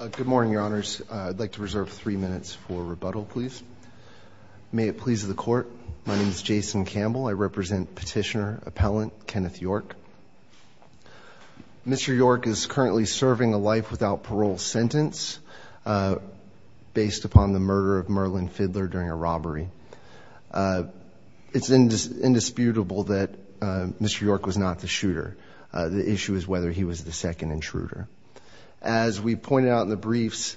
Good morning, your honors. I'd like to reserve three minutes for rebuttal, please. May it please the court, my name is Jason Campbell. I represent petitioner appellant Kenneth York. Mr. York is currently serving a life without parole sentence based upon the murder of Merlin Fidler during a robbery. It's indisputable that Mr. York was not the shooter. The issue is whether he was the shooter. As pointed out in the briefs,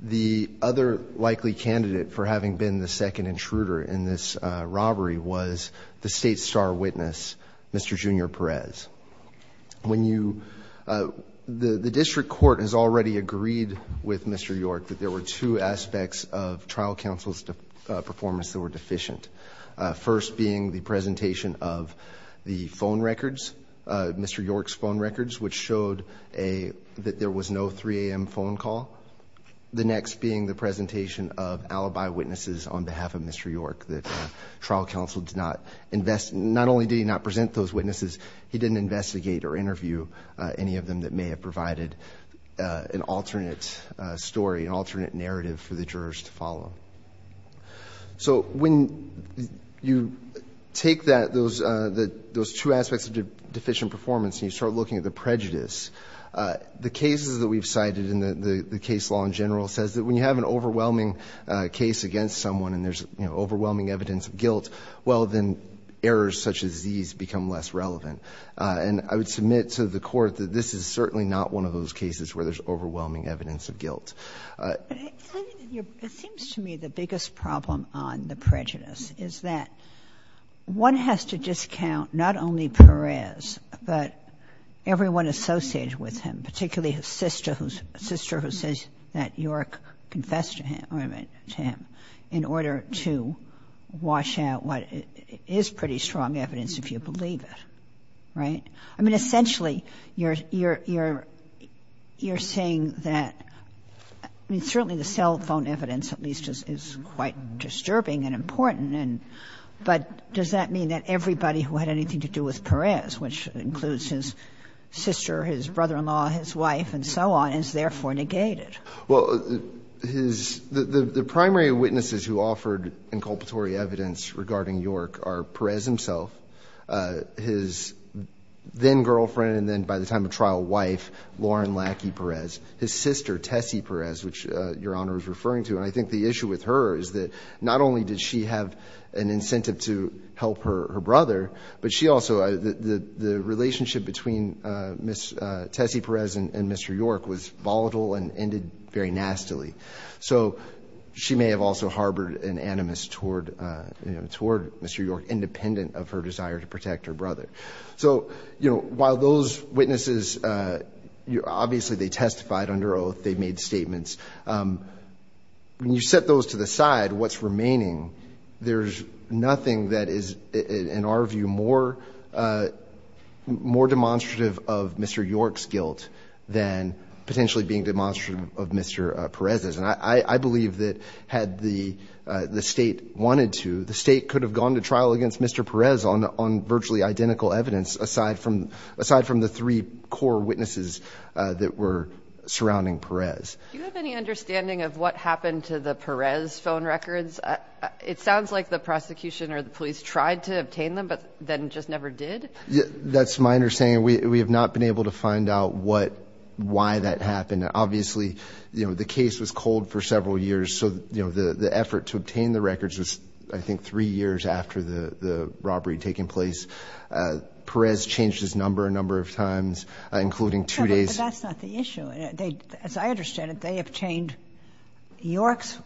the other likely candidate for having been the second intruder in this robbery was the state star witness Mr. Junior Perez. When you, the district court has already agreed with Mr. York that there were two aspects of trial counsel's performance that were deficient. First being the presentation of the phone records, Mr. York's phone records, which showed a that there was no 3 a.m. phone call. The next being the presentation of alibi witnesses on behalf of Mr. York that trial counsel did not invest, not only did he not present those witnesses, he didn't investigate or interview any of them that may have provided an alternate story, an alternate narrative for the jurors to follow. So when you take that, those two aspects of deficient performance and you start looking at the prejudice, the cases that we've cited in the case law in general says that when you have an overwhelming case against someone and there's overwhelming evidence of guilt, well, then errors such as these become less relevant. And I would submit to the court that this is certainly not one of those cases where there's overwhelming evidence of guilt. It seems to me the biggest problem on the prejudice is that one has to discount not only Perez, but everyone associated with him, particularly his sister who says that York confessed to him in order to wash out what is pretty strong evidence if you believe it, right? I mean, essentially, you're saying that certainly the cell phone evidence at least is quite disturbing and important, but does that mean that it also had anything to do with Perez, which includes his sister, his brother-in-law, his wife, and so on, and is therefore negated? Well, the primary witnesses who offered inculpatory evidence regarding York are Perez himself, his then-girlfriend, and then by the time of trial, wife, Lauren Lackey Perez, his sister, Tessie Perez, which Your Honor is referring to. And I think the issue with her is that not only did she have an incentive to help her brother, but she also, the relationship between Tessie Perez and Mr. York was volatile and ended very nastily. So she may have also harbored an animus toward Mr. York, independent of her desire to protect her brother. So, you know, while those witnesses, obviously they testified under oath, they made statements. When you set those to the side, what's remaining, there's nothing that is, in our view, more demonstrative of Mr. York's guilt than potentially being demonstrative of Mr. Perez's. And I believe that had the State wanted to, the State could have gone to trial against Mr. Perez on virtually identical evidence aside from the three core witnesses that were surrounding Perez. Do you have any understanding of what happened to the Perez phone records? It sounds like the prosecution or the police tried to obtain them, but then just never did? That's my understanding. We have not been able to find out what, why that happened. Obviously, you know, the case was cold for several years. So, you know, the effort to obtain the records was, I think, three years after the robbery taking place. Perez changed his number a number of times, including two days... Why didn't they obtain York's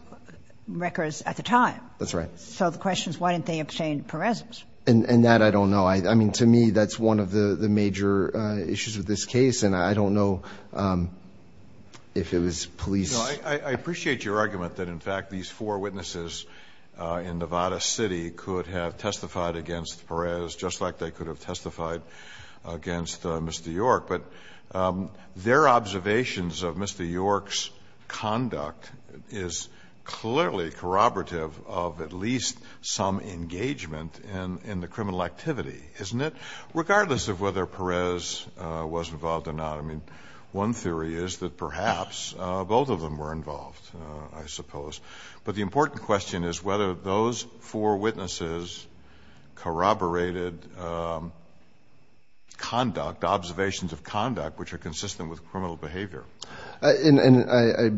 records at the time? That's right. So the question is, why didn't they obtain Perez's? And that I don't know. I mean, to me, that's one of the major issues with this case, and I don't know if it was police... No, I appreciate your argument that, in fact, these four witnesses in Nevada City could have testified against Perez just like they could have testified against Mr. York. But their observations of Mr. York's conduct is clearly corroborative of at least some engagement in the criminal activity, isn't it? Regardless of whether Perez was involved or not. I mean, one theory is that perhaps both of them were involved, I suppose. But the important question is whether those four witnesses corroborated conduct, observations of conduct which are consistent with criminal behavior. And I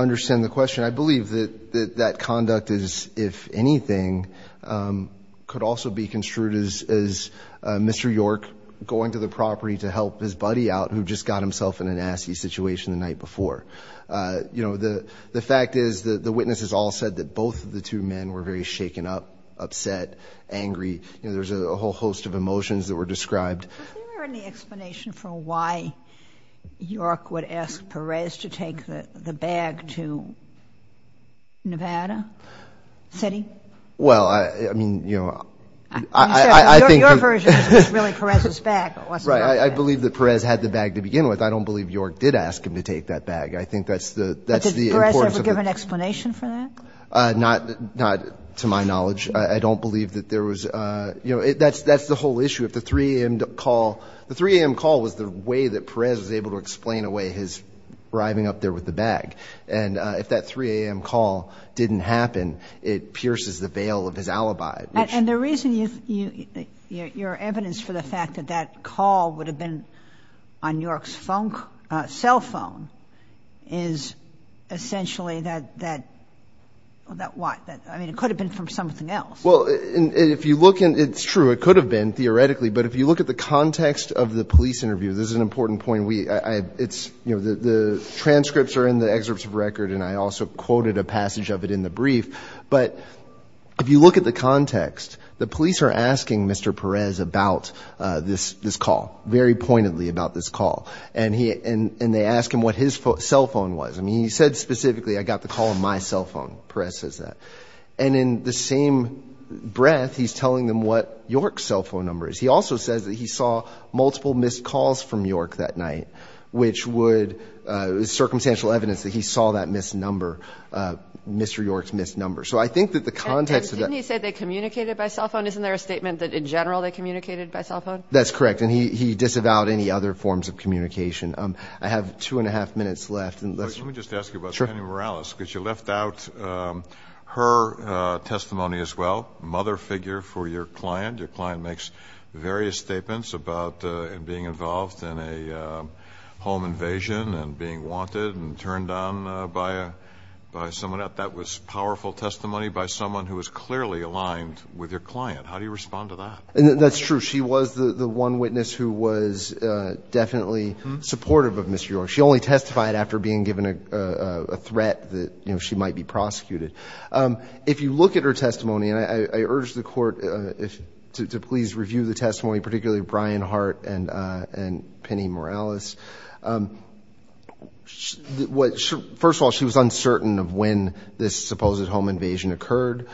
understand the question. I believe that that conduct is, if anything, could also be construed as Mr. York going to the property to help his buddy out who just got himself in a nasty situation the night before. You know, the fact is that the witnesses all said that both of the two men were very shaken up, upset, angry. You know, there's a whole host of emotions that were described... But is there any explanation for why York would ask Perez to take the bag to Nevada City? Well, I mean, you know, I think... I mean, your version is that it was really Perez's bag, it wasn't my bag. Right. I believe that Perez had the bag to begin with. I don't believe York did ask him to take that bag. I think that's the importance of the... But did Perez ever give an explanation for that? Not to my knowledge. I don't believe that there was, you know, that's the whole call. The 3 a.m. call was the way that Perez was able to explain away his arriving up there with the bag. And if that 3 a.m. call didn't happen, it pierces the veil of his alibi, which... And the reason you... Your evidence for the fact that that call would have been on York's phone, cell phone, is essentially that... That what? I mean, it could have been from something else. Well, if you look in... It's true. It could have been, theoretically. But if you look at the context of the police interview, this is an important point. We... It's... You know, the transcripts are in the excerpts of record, and I also quoted a passage of it in the brief. But if you look at the context, the police are asking Mr. Perez about this call, very pointedly about this call. And he... And they ask him what his cell phone was. I mean, he said specifically, I got the call on my cell phone. Perez says that. And in the same breath, he's telling them what York's cell phone number is. He also says that he saw multiple missed calls from York that night, which would... It was circumstantial evidence that he saw that missed number, Mr. York's missed number. So I think that the context of that... And didn't he say they communicated by cell phone? Isn't there a statement that, in general, they communicated by cell phone? That's correct. And he disavowed any other forms of communication. I have two and a half minutes left, and let's... Let me just ask you about Penny Morales, because you left out her testimony as well. Mother figure for your client. Your client makes various statements about being involved in a home invasion and being wanted and turned on by someone. That was powerful testimony by someone who was clearly aligned with your client. How do you respond to that? That's true. She was the one witness who was definitely supportive of Mr. York. She only testified after being given a threat that she might be prosecuted. If you look at her testimony, I would ask the court to please review the testimony, particularly Brian Hart and Penny Morales. First of all, she was uncertain of when this supposed home invasion occurred.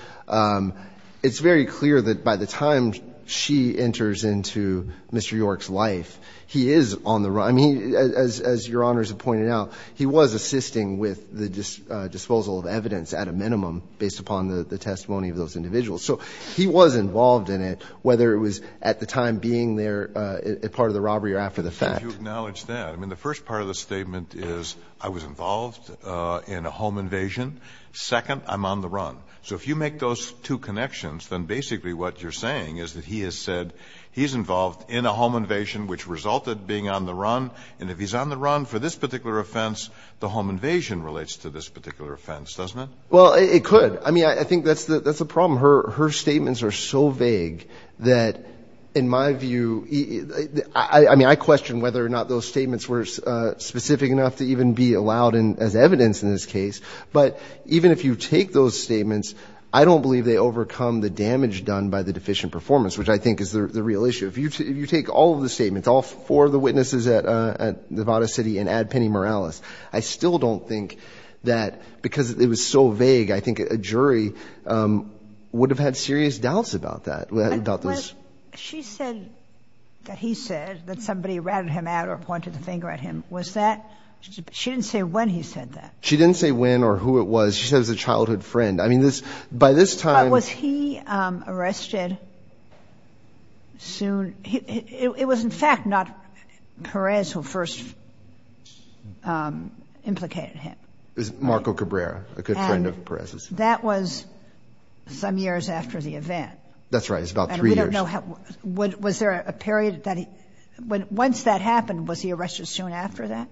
It's very clear that by the time she enters into Mr. York's life, he is on the run. I mean, as Your Honors have pointed out, he was assisting with the disposal of he was involved in it, whether it was at the time being there, a part of the robbery or after the fact. If you acknowledge that, I mean, the first part of the statement is, I was involved in a home invasion. Second, I'm on the run. So if you make those two connections, then basically what you're saying is that he has said he's involved in a home invasion, which resulted being on the run. And if he's on the run for this particular offense, the home invasion relates to this particular offense, doesn't it? Well, it could. I mean, I think that's the problem. Her statements are so vague that in my view, I mean, I question whether or not those statements were specific enough to even be allowed as evidence in this case. But even if you take those statements, I don't believe they overcome the damage done by the deficient performance, which I think is the real issue. If you take all of the statements, all four of the witnesses at Nevada City and I still don't think that because it was so vague, I think a jury would have had serious doubts about that, about this. She said that he said that somebody ratted him out or pointed the finger at him. Was that, she didn't say when he said that. She didn't say when or who it was. She said it was a childhood friend. I mean, this, by this time. But was he arrested soon? It was, in fact, not Perez who first implicated him. It was Marco Cabrera, a good friend of Perez's. That was some years after the event. That's right. It's about three years. And we don't know how, was there a period that he, once that happened, was he arrested soon after that?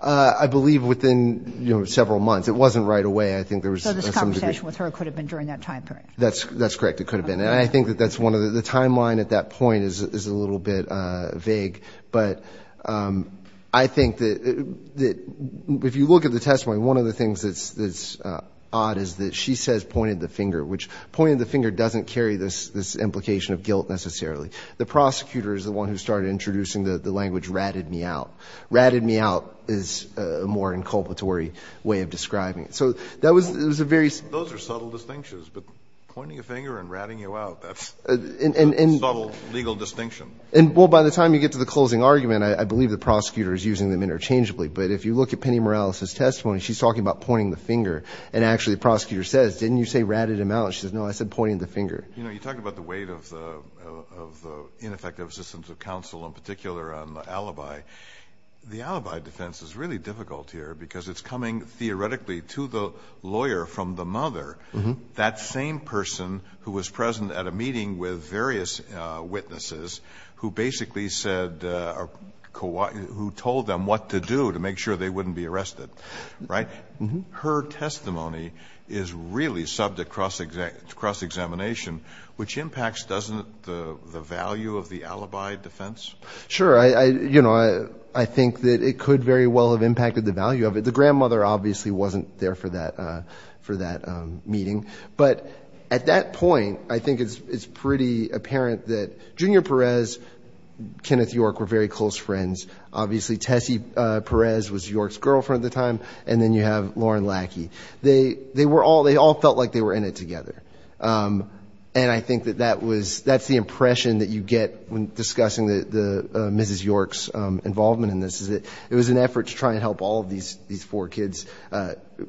I believe within several months. It wasn't right away. I think there was some. The conversation with her could have been during that time period. That's correct. It could have been. And I think that that's one of the, the timeline at that point is a little bit vague. But I think that if you look at the testimony, one of the things that's odd is that she says pointed the finger, which pointed the finger doesn't carry this implication of guilt necessarily. The prosecutor is the one who started introducing the language ratted me out. Ratted me out is a more inculpatory way of describing it. Those are subtle distinctions, but pointing a finger and ratting you out, that's a subtle legal distinction. And, well, by the time you get to the closing argument, I believe the prosecutor is using them interchangeably. But if you look at Penny Morales' testimony, she's talking about pointing the finger. And actually the prosecutor says, didn't you say ratted him out? She says, no, I said pointing the finger. You know, you talked about the weight of the ineffective assistance of counsel, in particular on the alibi. The alibi defense is really difficult here because it's coming theoretically to the lawyer from the mother, that same person who was present at a meeting with various witnesses who basically said, who told them what to do to make sure they wouldn't be arrested, right? Her testimony is really subject to cross-examination, which impacts, doesn't the value of the alibi defense? Sure. You know, I think that it could very well have impacted the value of it. The grandmother obviously wasn't there for that meeting. But at that point, I think it's pretty apparent that Junior Perez, Kenneth York were very close friends. Obviously, Tessie Perez was York's girlfriend at the time. And then you have Lauren Lackey. They were all, they all felt like they were in it together. And I think that that was, that's the impression that you get when discussing Mrs. York's involvement in this, is that it was an effort to try and help all of these four kids,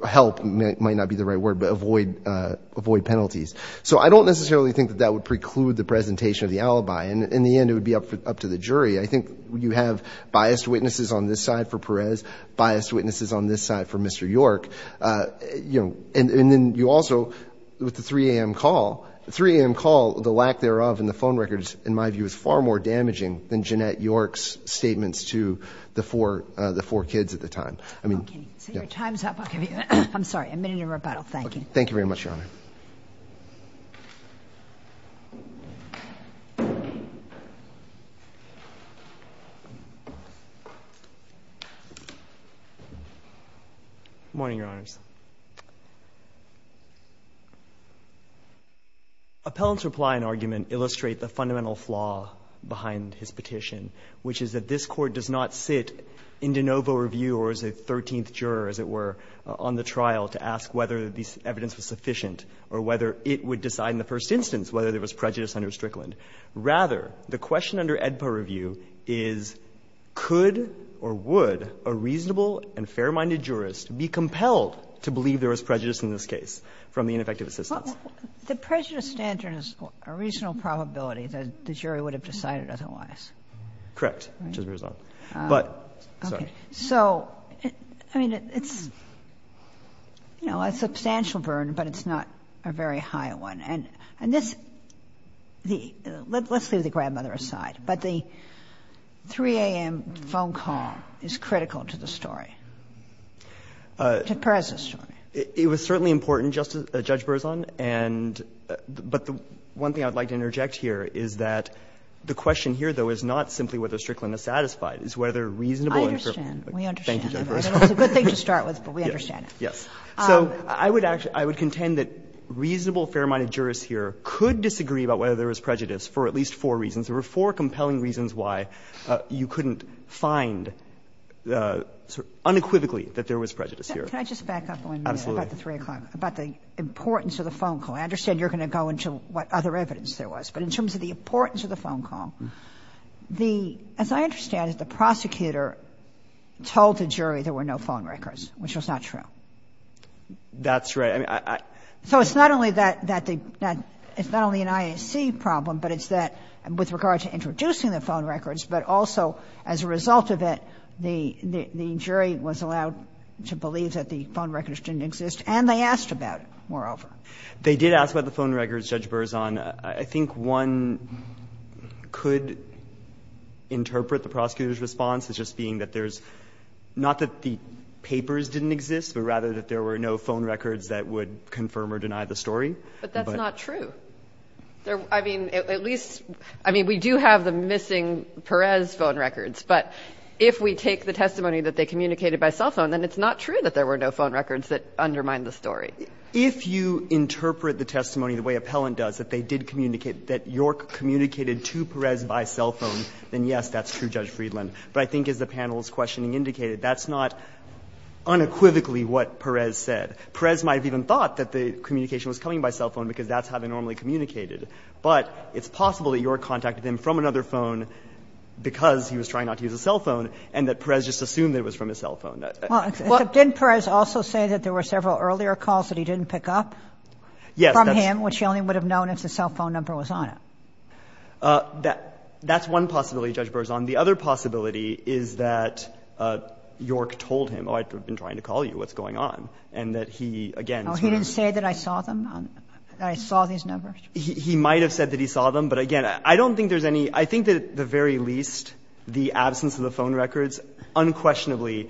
help might not be the right word, but avoid penalties. So I don't necessarily think that that would preclude the presentation of the alibi. In the end, it would be up to the jury. I think you have biased witnesses on this side for Perez, biased witnesses on this side for Mr. York. You know, and then you also, with the 3 a.m. call, the 3 a.m. call, the lack thereof in the phone records, in my view, is far more damaging than Jeanette York's statements to the four kids at the time. I mean, yeah. Okay. Your time's up. I'll give you, I'm sorry, a minute of rebuttal. Thank you. Thank you very much, Your Honor. Good morning, Your Honors. Appellant's reply and argument illustrate the fundamental flaw behind his petition, which is that this Court does not sit in de novo review, or as a 13th juror, as it were, on the trial to ask whether the evidence was sufficient or whether it would decide in the first instance whether there was prejudice under Strickland. Rather, the question under AEDPA review is, could or would a reasonable and fair-minded jurist be compelled to believe there was prejudice in this case from the ineffective assistance? The prejudice standard is a reasonable probability that the jury would have decided otherwise. Correct, which is the result. But, sorry. So, I mean, it's, you know, a substantial burden, but it's not a very high one. And this, the, let's leave the grandmother aside, but the 3 a.m. phone call is critical to the story, to Perez's story. It was certainly important, Judge Berzon, and, but the one thing I would like to interject here is that the question here, though, is not simply whether Strickland is satisfied. It's whether reasonable and fair-minded jurist could disagree about whether there was prejudice for at least four reasons. There were four compelling reasons why you couldn't find unequivocally that there was prejudice here. Can I just back up one minute? Absolutely. About the 3 o'clock, about the importance of the phone call. I understand you're going to go into what other evidence there was, but in terms of the phone call, the prosecutor told the jury there were no phone records, which was not true. That's right. So it's not only that, that the, it's not only an IAC problem, but it's that, with regard to introducing the phone records, but also as a result of it, the jury was allowed to believe that the phone records didn't exist, and they asked about it, moreover. They did ask about the phone records, Judge Berzon. I think one could interpret the prosecutor's response as just being that there's not that the papers didn't exist, but rather that there were no phone records that would confirm or deny the story. But that's not true. I mean, at least, I mean, we do have the missing Perez phone records, but if we take the testimony that they communicated by cell phone, then it's not true that there were no phone records that undermine the story. If you interpret the testimony the way Appellant does, that they did communicate that York communicated to Perez by cell phone, then yes, that's true, Judge Friedland. But I think as the panel's questioning indicated, that's not unequivocally what Perez said. Perez might have even thought that the communication was coming by cell phone because that's how they normally communicated. But it's possible that York contacted him from another phone because he was trying not to use a cell phone, and that Perez just assumed that it was from his cell phone. Well, except didn't Perez also say that there were several earlier calls that he didn't pick up from him, which he only would have known if the cell phone number was on it? That's one possibility, Judge Berzon. The other possibility is that York told him, oh, I've been trying to call you, what's going on, and that he, again, it's not true. Oh, he didn't say that I saw them, that I saw these numbers? He might have said that he saw them, but, again, I don't think there's any – I think that, at the very least, the absence of the phone records unquestionably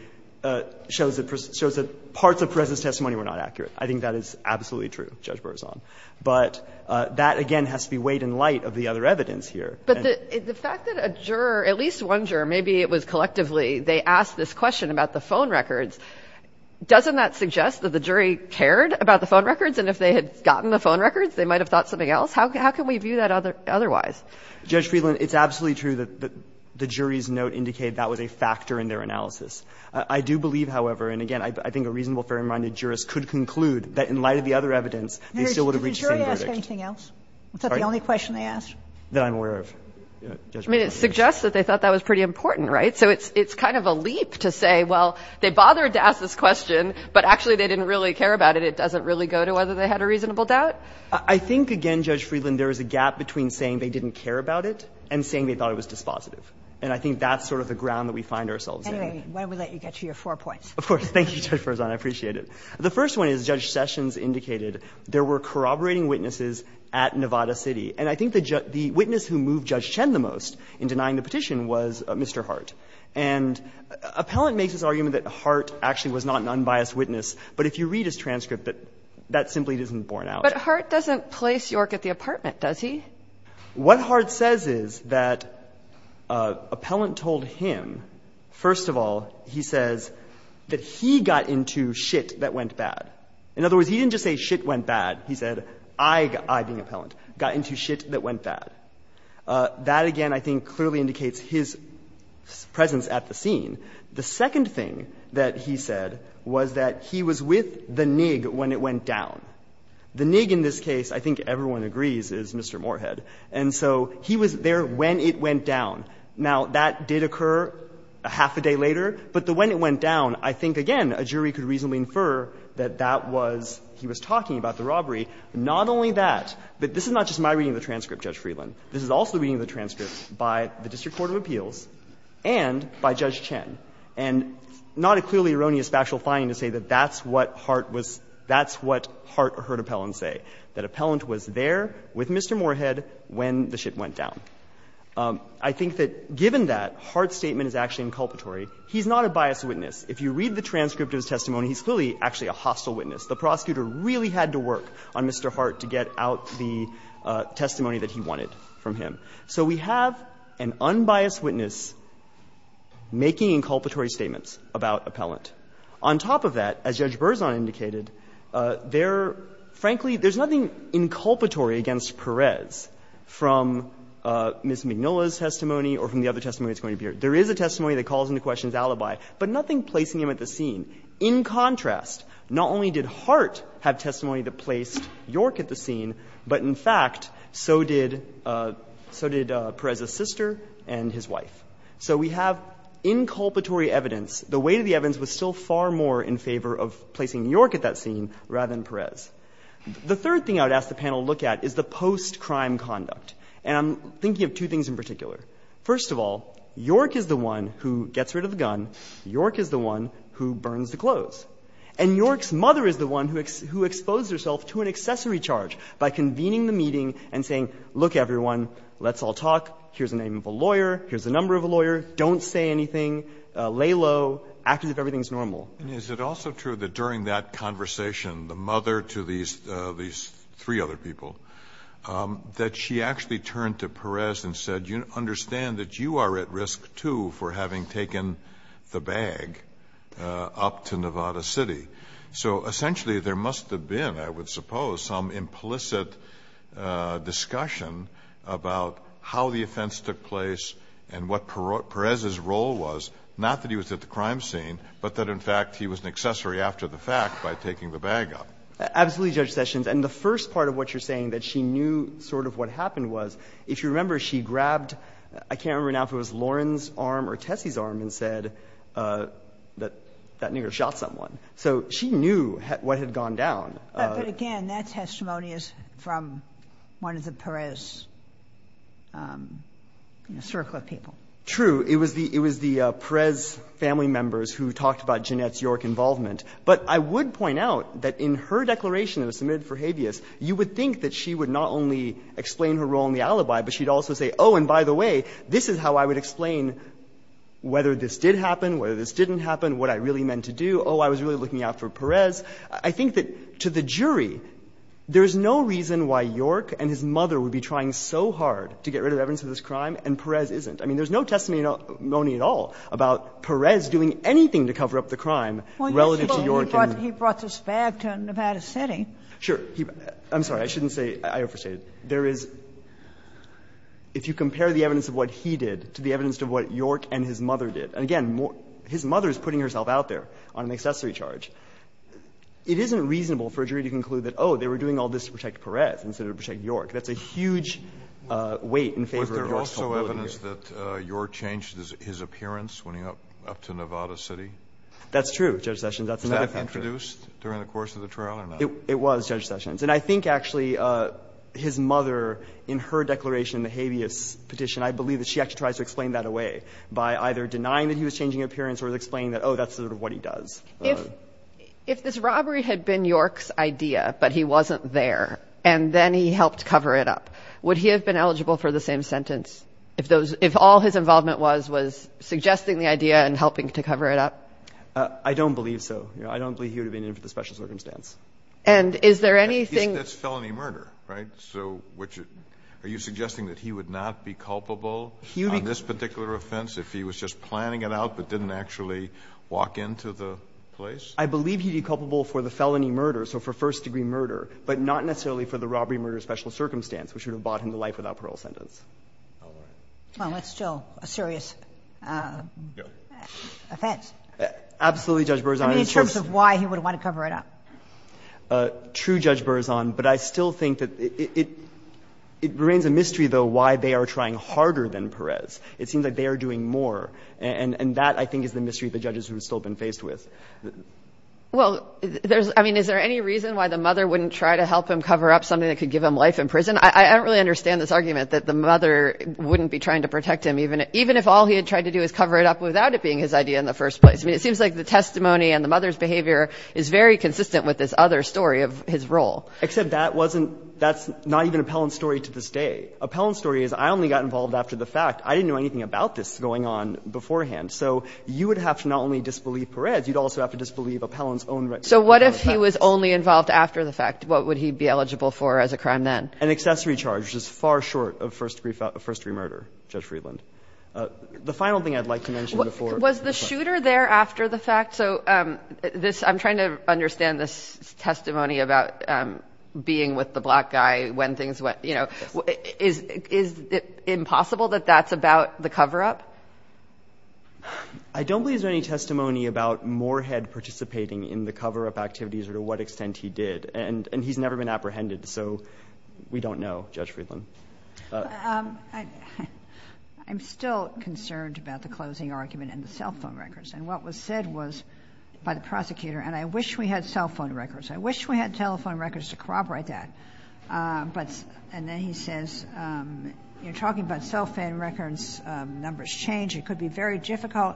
shows that parts of Perez's testimony were not accurate. I think that is absolutely true, Judge Berzon. But that, again, has to be weighed in light of the other evidence here. But the fact that a juror, at least one juror, maybe it was collectively, they asked this question about the phone records, doesn't that suggest that the jury cared about the phone records, and if they had gotten the phone records, they might have thought something else? How can we view that otherwise? Judge Friedland, it's absolutely true that the jury's note indicated that was a factor in their analysis. I do believe, however, and, again, I think a reasonable, fair-minded jurist could conclude that, in light of the other evidence, they still would have reached the same verdict. Sotomayor, did the jury ask anything else? Was that the only question they asked? That I'm aware of, Judge Berzon. I mean, it suggests that they thought that was pretty important, right? So it's kind of a leap to say, well, they bothered to ask this question, but actually they didn't really care about it. It doesn't really go to whether they had a reasonable doubt? I think, again, Judge Friedland, there is a gap between saying they didn't care about it and saying they thought it was dispositive. And I think that's sort of the ground that we find ourselves in. Anyway, why don't we let you get to your four points? Of course. Thank you, Judge Berzon. I appreciate it. The first one is, Judge Sessions indicated there were corroborating witnesses at Nevada City. And I think the witness who moved Judge Chen the most in denying the petition was Mr. Hart. And Appellant makes this argument that Hart actually was not an unbiased witness, but if you read his transcript, that simply doesn't borne out. But Hart doesn't place York at the apartment, does he? What Hart says is that Appellant told him, first of all, he says that he got into shit that went bad. In other words, he didn't just say shit went bad. He said, I, being Appellant, got into shit that went bad. That, again, I think clearly indicates his presence at the scene. The second thing that he said was that he was with the NIG when it went down. The NIG in this case, I think everyone agrees, is Mr. Moorhead. And so he was there when it went down. Now, that did occur a half a day later, but the when it went down, I think, again, a jury could reasonably infer that that was he was talking about, the robbery. Not only that, but this is not just my reading of the transcript, Judge Friedland. This is also reading of the transcript by the District Court of Appeals and by Judge Chen. And not a clearly erroneous factual finding to say that that's what Hart was – that's what Hart heard Appellant say, that Appellant was there with Mr. Moorhead when the shit went down. I think that, given that Hart's statement is actually inculpatory, he's not a biased witness. If you read the transcript of his testimony, he's clearly actually a hostile witness. The prosecutor really had to work on Mr. Hart to get out the testimony that he wanted from him. So we have an unbiased witness making inculpatory statements about Appellant. On top of that, as Judge Berzon indicated, there, frankly, there's nothing inculpatory against Perez from Ms. Mignola's testimony or from the other testimony that's going to appear. There is a testimony that calls into question his alibi, but nothing placing him at the scene. In contrast, not only did Hart have testimony that placed York at the scene, but, in fact, so did Perez's sister and his wife. So we have inculpatory evidence. The weight of the evidence was still far more in favor of placing York at that scene rather than Perez. The third thing I would ask the panel to look at is the post-crime conduct. And I'm thinking of two things in particular. First of all, York is the one who gets rid of the gun. York is the one who burns the clothes. And York's mother is the one who exposed herself to an accessory charge by convening the meeting and saying, look, everyone, let's all talk. Here's the name of a lawyer. Here's the number of a lawyer. Don't say anything. Lay low. Act as if everything is normal. Kennedy. And is it also true that during that conversation, the mother to these three other people, that she actually turned to Perez and said, you understand that you are at risk, too, for having taken the bag up to Nevada City? So essentially, there must have been, I would suppose, some implicit discussion about how the offense took place and what Perez's role was. Not that he was at the crime scene, but that, in fact, he was an accessory after the fact by taking the bag up. Absolutely, Judge Sessions. And the first part of what you're saying, that she knew sort of what happened, was if you remember, she grabbed, I can't remember now if it was Lauren's arm or Tessie's arm, and said that that nigger shot someone. So she knew what had gone down. But again, that testimony is from one of the Perez circle of people. True. It was the Perez family members who talked about Jeanette's York involvement. But I would point out that in her declaration that was submitted for habeas, you would think that she would not only explain her role in the alibi, but she'd also say, oh, and by the way, this is how I would explain whether this did happen, whether this didn't happen, what I really meant to do. Oh, I was really looking out for Perez. I think that to the jury, there's no reason why York and his mother would be trying so hard to get rid of evidence of this crime, and Perez isn't. I mean, there's no testimony at all about Perez doing anything to cover up the crime relative to York and his mother. He brought this bag to Nevada City. Sure. I'm sorry, I shouldn't say, I overstated. There is, if you compare the evidence of what he did to the evidence of what York and his mother did, and again, his mother is putting herself out there on an accessory charge, it isn't reasonable for a jury to conclude that, oh, they were doing all this to protect Perez instead of to protect York. That's a huge weight in favor of York's culpability. Kennedy, was there also evidence that York changed his appearance when he went up to Nevada City? That's true, Judge Sessions, that's another factor. Was that introduced during the course of the trial or not? It was, Judge Sessions. And I think actually his mother, in her declaration, the habeas petition, I believe that she actually tries to explain that away by either denying that he was changing appearance or explaining that, oh, that's sort of what he does. If this robbery had been York's idea, but he wasn't there, and then he helped cover it up, would he have been eligible for the same sentence if all his involvement was was suggesting the idea and helping to cover it up? I don't believe so. I don't believe he would have been in for the special circumstance. And is there anything... It's felony murder, right? So are you suggesting that he would not be culpable on this particular offense if he was just planning it out but didn't actually walk into the place? I believe he'd be culpable for the felony murder, so for first-degree murder, but not necessarily for the robbery-murder special circumstance, which would have bought him the life without parole sentence. Well, it's still a serious offense. Absolutely, Judge Berzon. In terms of why he would want to cover it up. True, Judge Berzon, but I still think that it remains a mystery, though, why they are trying harder than Perez. It seems like they are doing more. And that, I think, is the mystery of the judges who have still been faced with. Well, there's, I mean, is there any reason why the mother wouldn't try to help him cover up something that could give him life in prison? I don't really understand this argument that the mother wouldn't be trying to protect him, even if all he had tried to do is cover it up without it being his idea in the first place. I mean, it seems like the testimony and the mother's behavior is very consistent with this other story of his role. Except that wasn't, that's not even Appellant's story to this day. Appellant's story is, I only got involved after the fact. I didn't know anything about this going on beforehand. So you would have to not only disbelieve Perez, you'd also have to disbelieve Appellant's own record. So what if he was only involved after the fact? What would he be eligible for as a crime then? An accessory charge, which is far short of first degree murder, Judge Friedland. The final thing I'd like to mention before. Was the shooter there after the fact? So this, I'm trying to understand this testimony about being with the black guy when things went, you know, is it impossible that that's about the coverup? I don't believe there's any testimony about Moorhead participating in the coverup activities or to what extent he did. And he's never been apprehended. So we don't know, Judge Friedland. I'm still concerned about the closing argument and the cell phone records. And what was said was by the prosecutor, and I wish we had cell phone records. I wish we had telephone records to corroborate that. But, and then he says, you're talking about cell phone records, numbers change. It could be very difficult.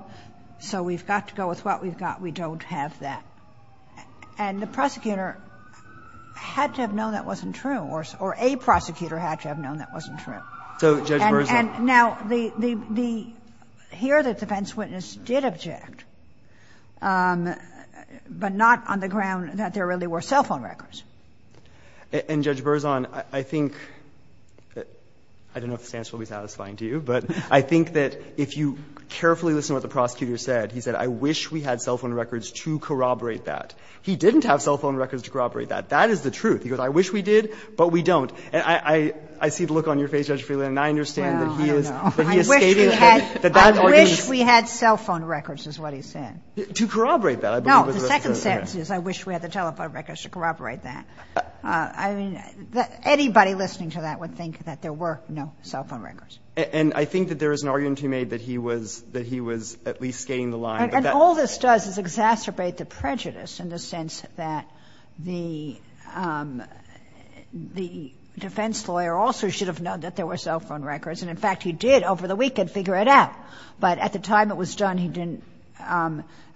So we've got to go with what we've got. We don't have that. And the prosecutor had to have known that wasn't true, or a prosecutor had to have known that wasn't true. So, Judge Burson. And now the, the, the, here the defense witness did object, but not on the ground that there really were cell phone records. And Judge Burson, I think that, I don't know if this answer will be satisfying to you, but I think that if you carefully listen to what the prosecutor said, he said, I wish we had cell phone records to corroborate that. He didn't have cell phone records to corroborate that. That is the truth. He goes, I wish we did, but we don't. And I, I, I see the look on your face, Judge Friedland, and I understand that he is, that he escaped it. I wish we had cell phone records, is what he said. To corroborate that, I believe is what he said. The second sentence is, I wish we had the telephone records to corroborate that. I mean, anybody listening to that would think that there were no cell phone records. And I think that there is an argument he made that he was, that he was at least skating the line. And all this does is exacerbate the prejudice in the sense that the, the defense lawyer also should have known that there were cell phone records. And in fact, he did, over the weekend, figure it out. But at the time it was done, he didn't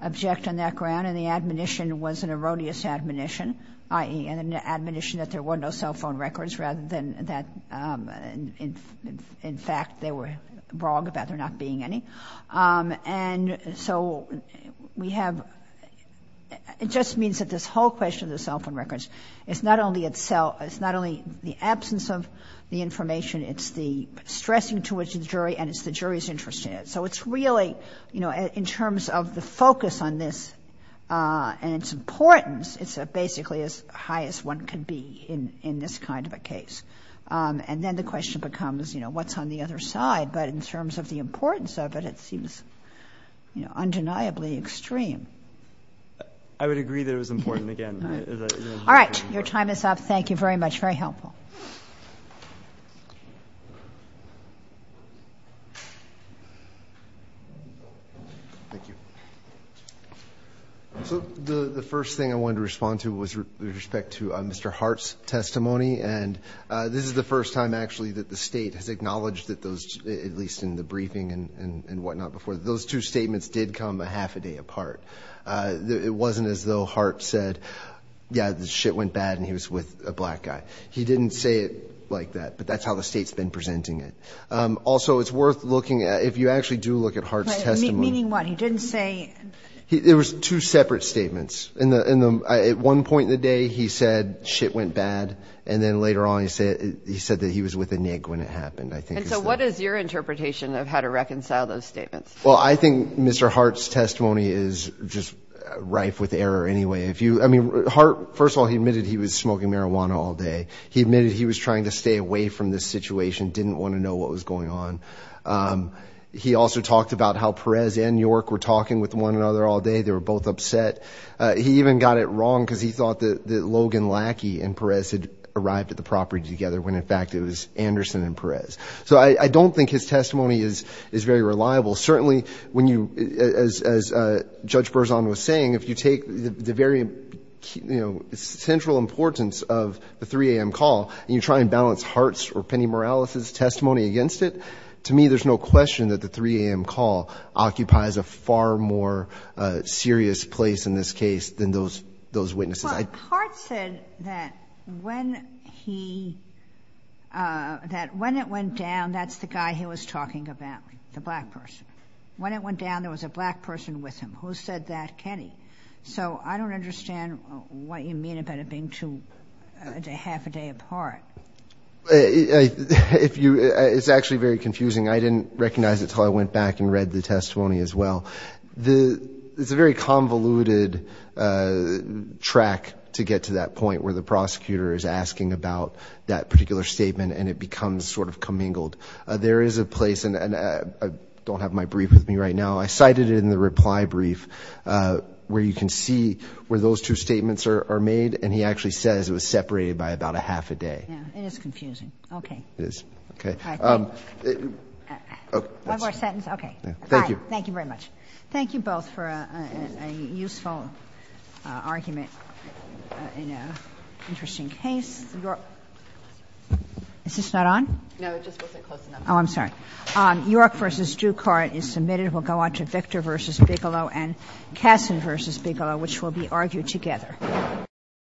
object on that ground. And the admonition was an erroneous admonition, i.e., an admonition that there were no cell phone records, rather than that, in, in, in fact, they were wrong about there not being any. And so, we have, it just means that this whole question of the cell phone records is not only itself, it's not only the absence of the information, it's the stressing towards the jury, and it's the jury's interest in it. So, it's really, you know, in terms of the focus on this, and its importance, it's basically as high as one can be in, in this kind of a case. And then the question becomes, you know, what's on the other side? But in terms of the importance of it, it seems, you know, undeniably extreme. I would agree that it was important again. All right, your time is up. Thank you very much. Very helpful. Thank you. So, the, the first thing I wanted to respond to was respect to Mr. Hart's testimony. And this is the first time actually that the state has acknowledged that those, at least in the briefing and, and, and whatnot before, those two statements did come a half a day apart. It wasn't as though Hart said, yeah, this shit went bad and he was with a black guy. He didn't say it like that, but that's how the state's been presenting it. Also, it's worth looking at, if you actually do look at Hart's testimony. Meaning what? He didn't say. He, there was two separate statements. In the, in the, at one point in the day, he said shit went bad, and then later on he said, he said that he was with a nig when it happened, I think. And so what is your interpretation of how to reconcile those statements? Well, I think Mr. Hart's testimony is just rife with error anyway. If you, I mean, Hart, first of all, he admitted he was smoking marijuana all day. He admitted he was trying to stay away from this situation, didn't want to know what was going on. He also talked about how Perez and York were talking with one another all day. They were both upset. He even got it wrong because he thought that Logan Lackey and Perez had arrived at the property together, when in fact it was Anderson and Perez. So I, I don't think his testimony is, is very reliable. Certainly, when you, as, as Judge Berzon was saying, if you take the, the very, you know, central importance of the 3 AM call, and you try and put Hart's or Penny Morales' testimony against it, to me, there's no question that the 3 AM call occupies a far more serious place in this case than those, those witnesses. I- But Hart said that when he, that when it went down, that's the guy he was talking about, the black person. When it went down, there was a black person with him. Who said that? Kenny. So I don't understand what you mean about it being two, a day, half a day apart. If you, it's actually very confusing. I didn't recognize it until I went back and read the testimony as well. The, it's a very convoluted track to get to that point where the prosecutor is asking about that particular statement, and it becomes sort of commingled. There is a place, and, and I don't have my brief with me right now. I cited it in the reply brief where you can see where those two statements are, are made, and he actually says it was separated by about a half a day. It is confusing. Okay. It is. Okay. One more sentence? Okay. Thank you. Thank you very much. Thank you both for a useful argument in an interesting case. Is this not on? No, it just wasn't close enough. Oh, I'm sorry. York v. Ducart is submitted. We'll go on to Victor v. Bigelow and Kasson v. Bigelow, which will be argued together.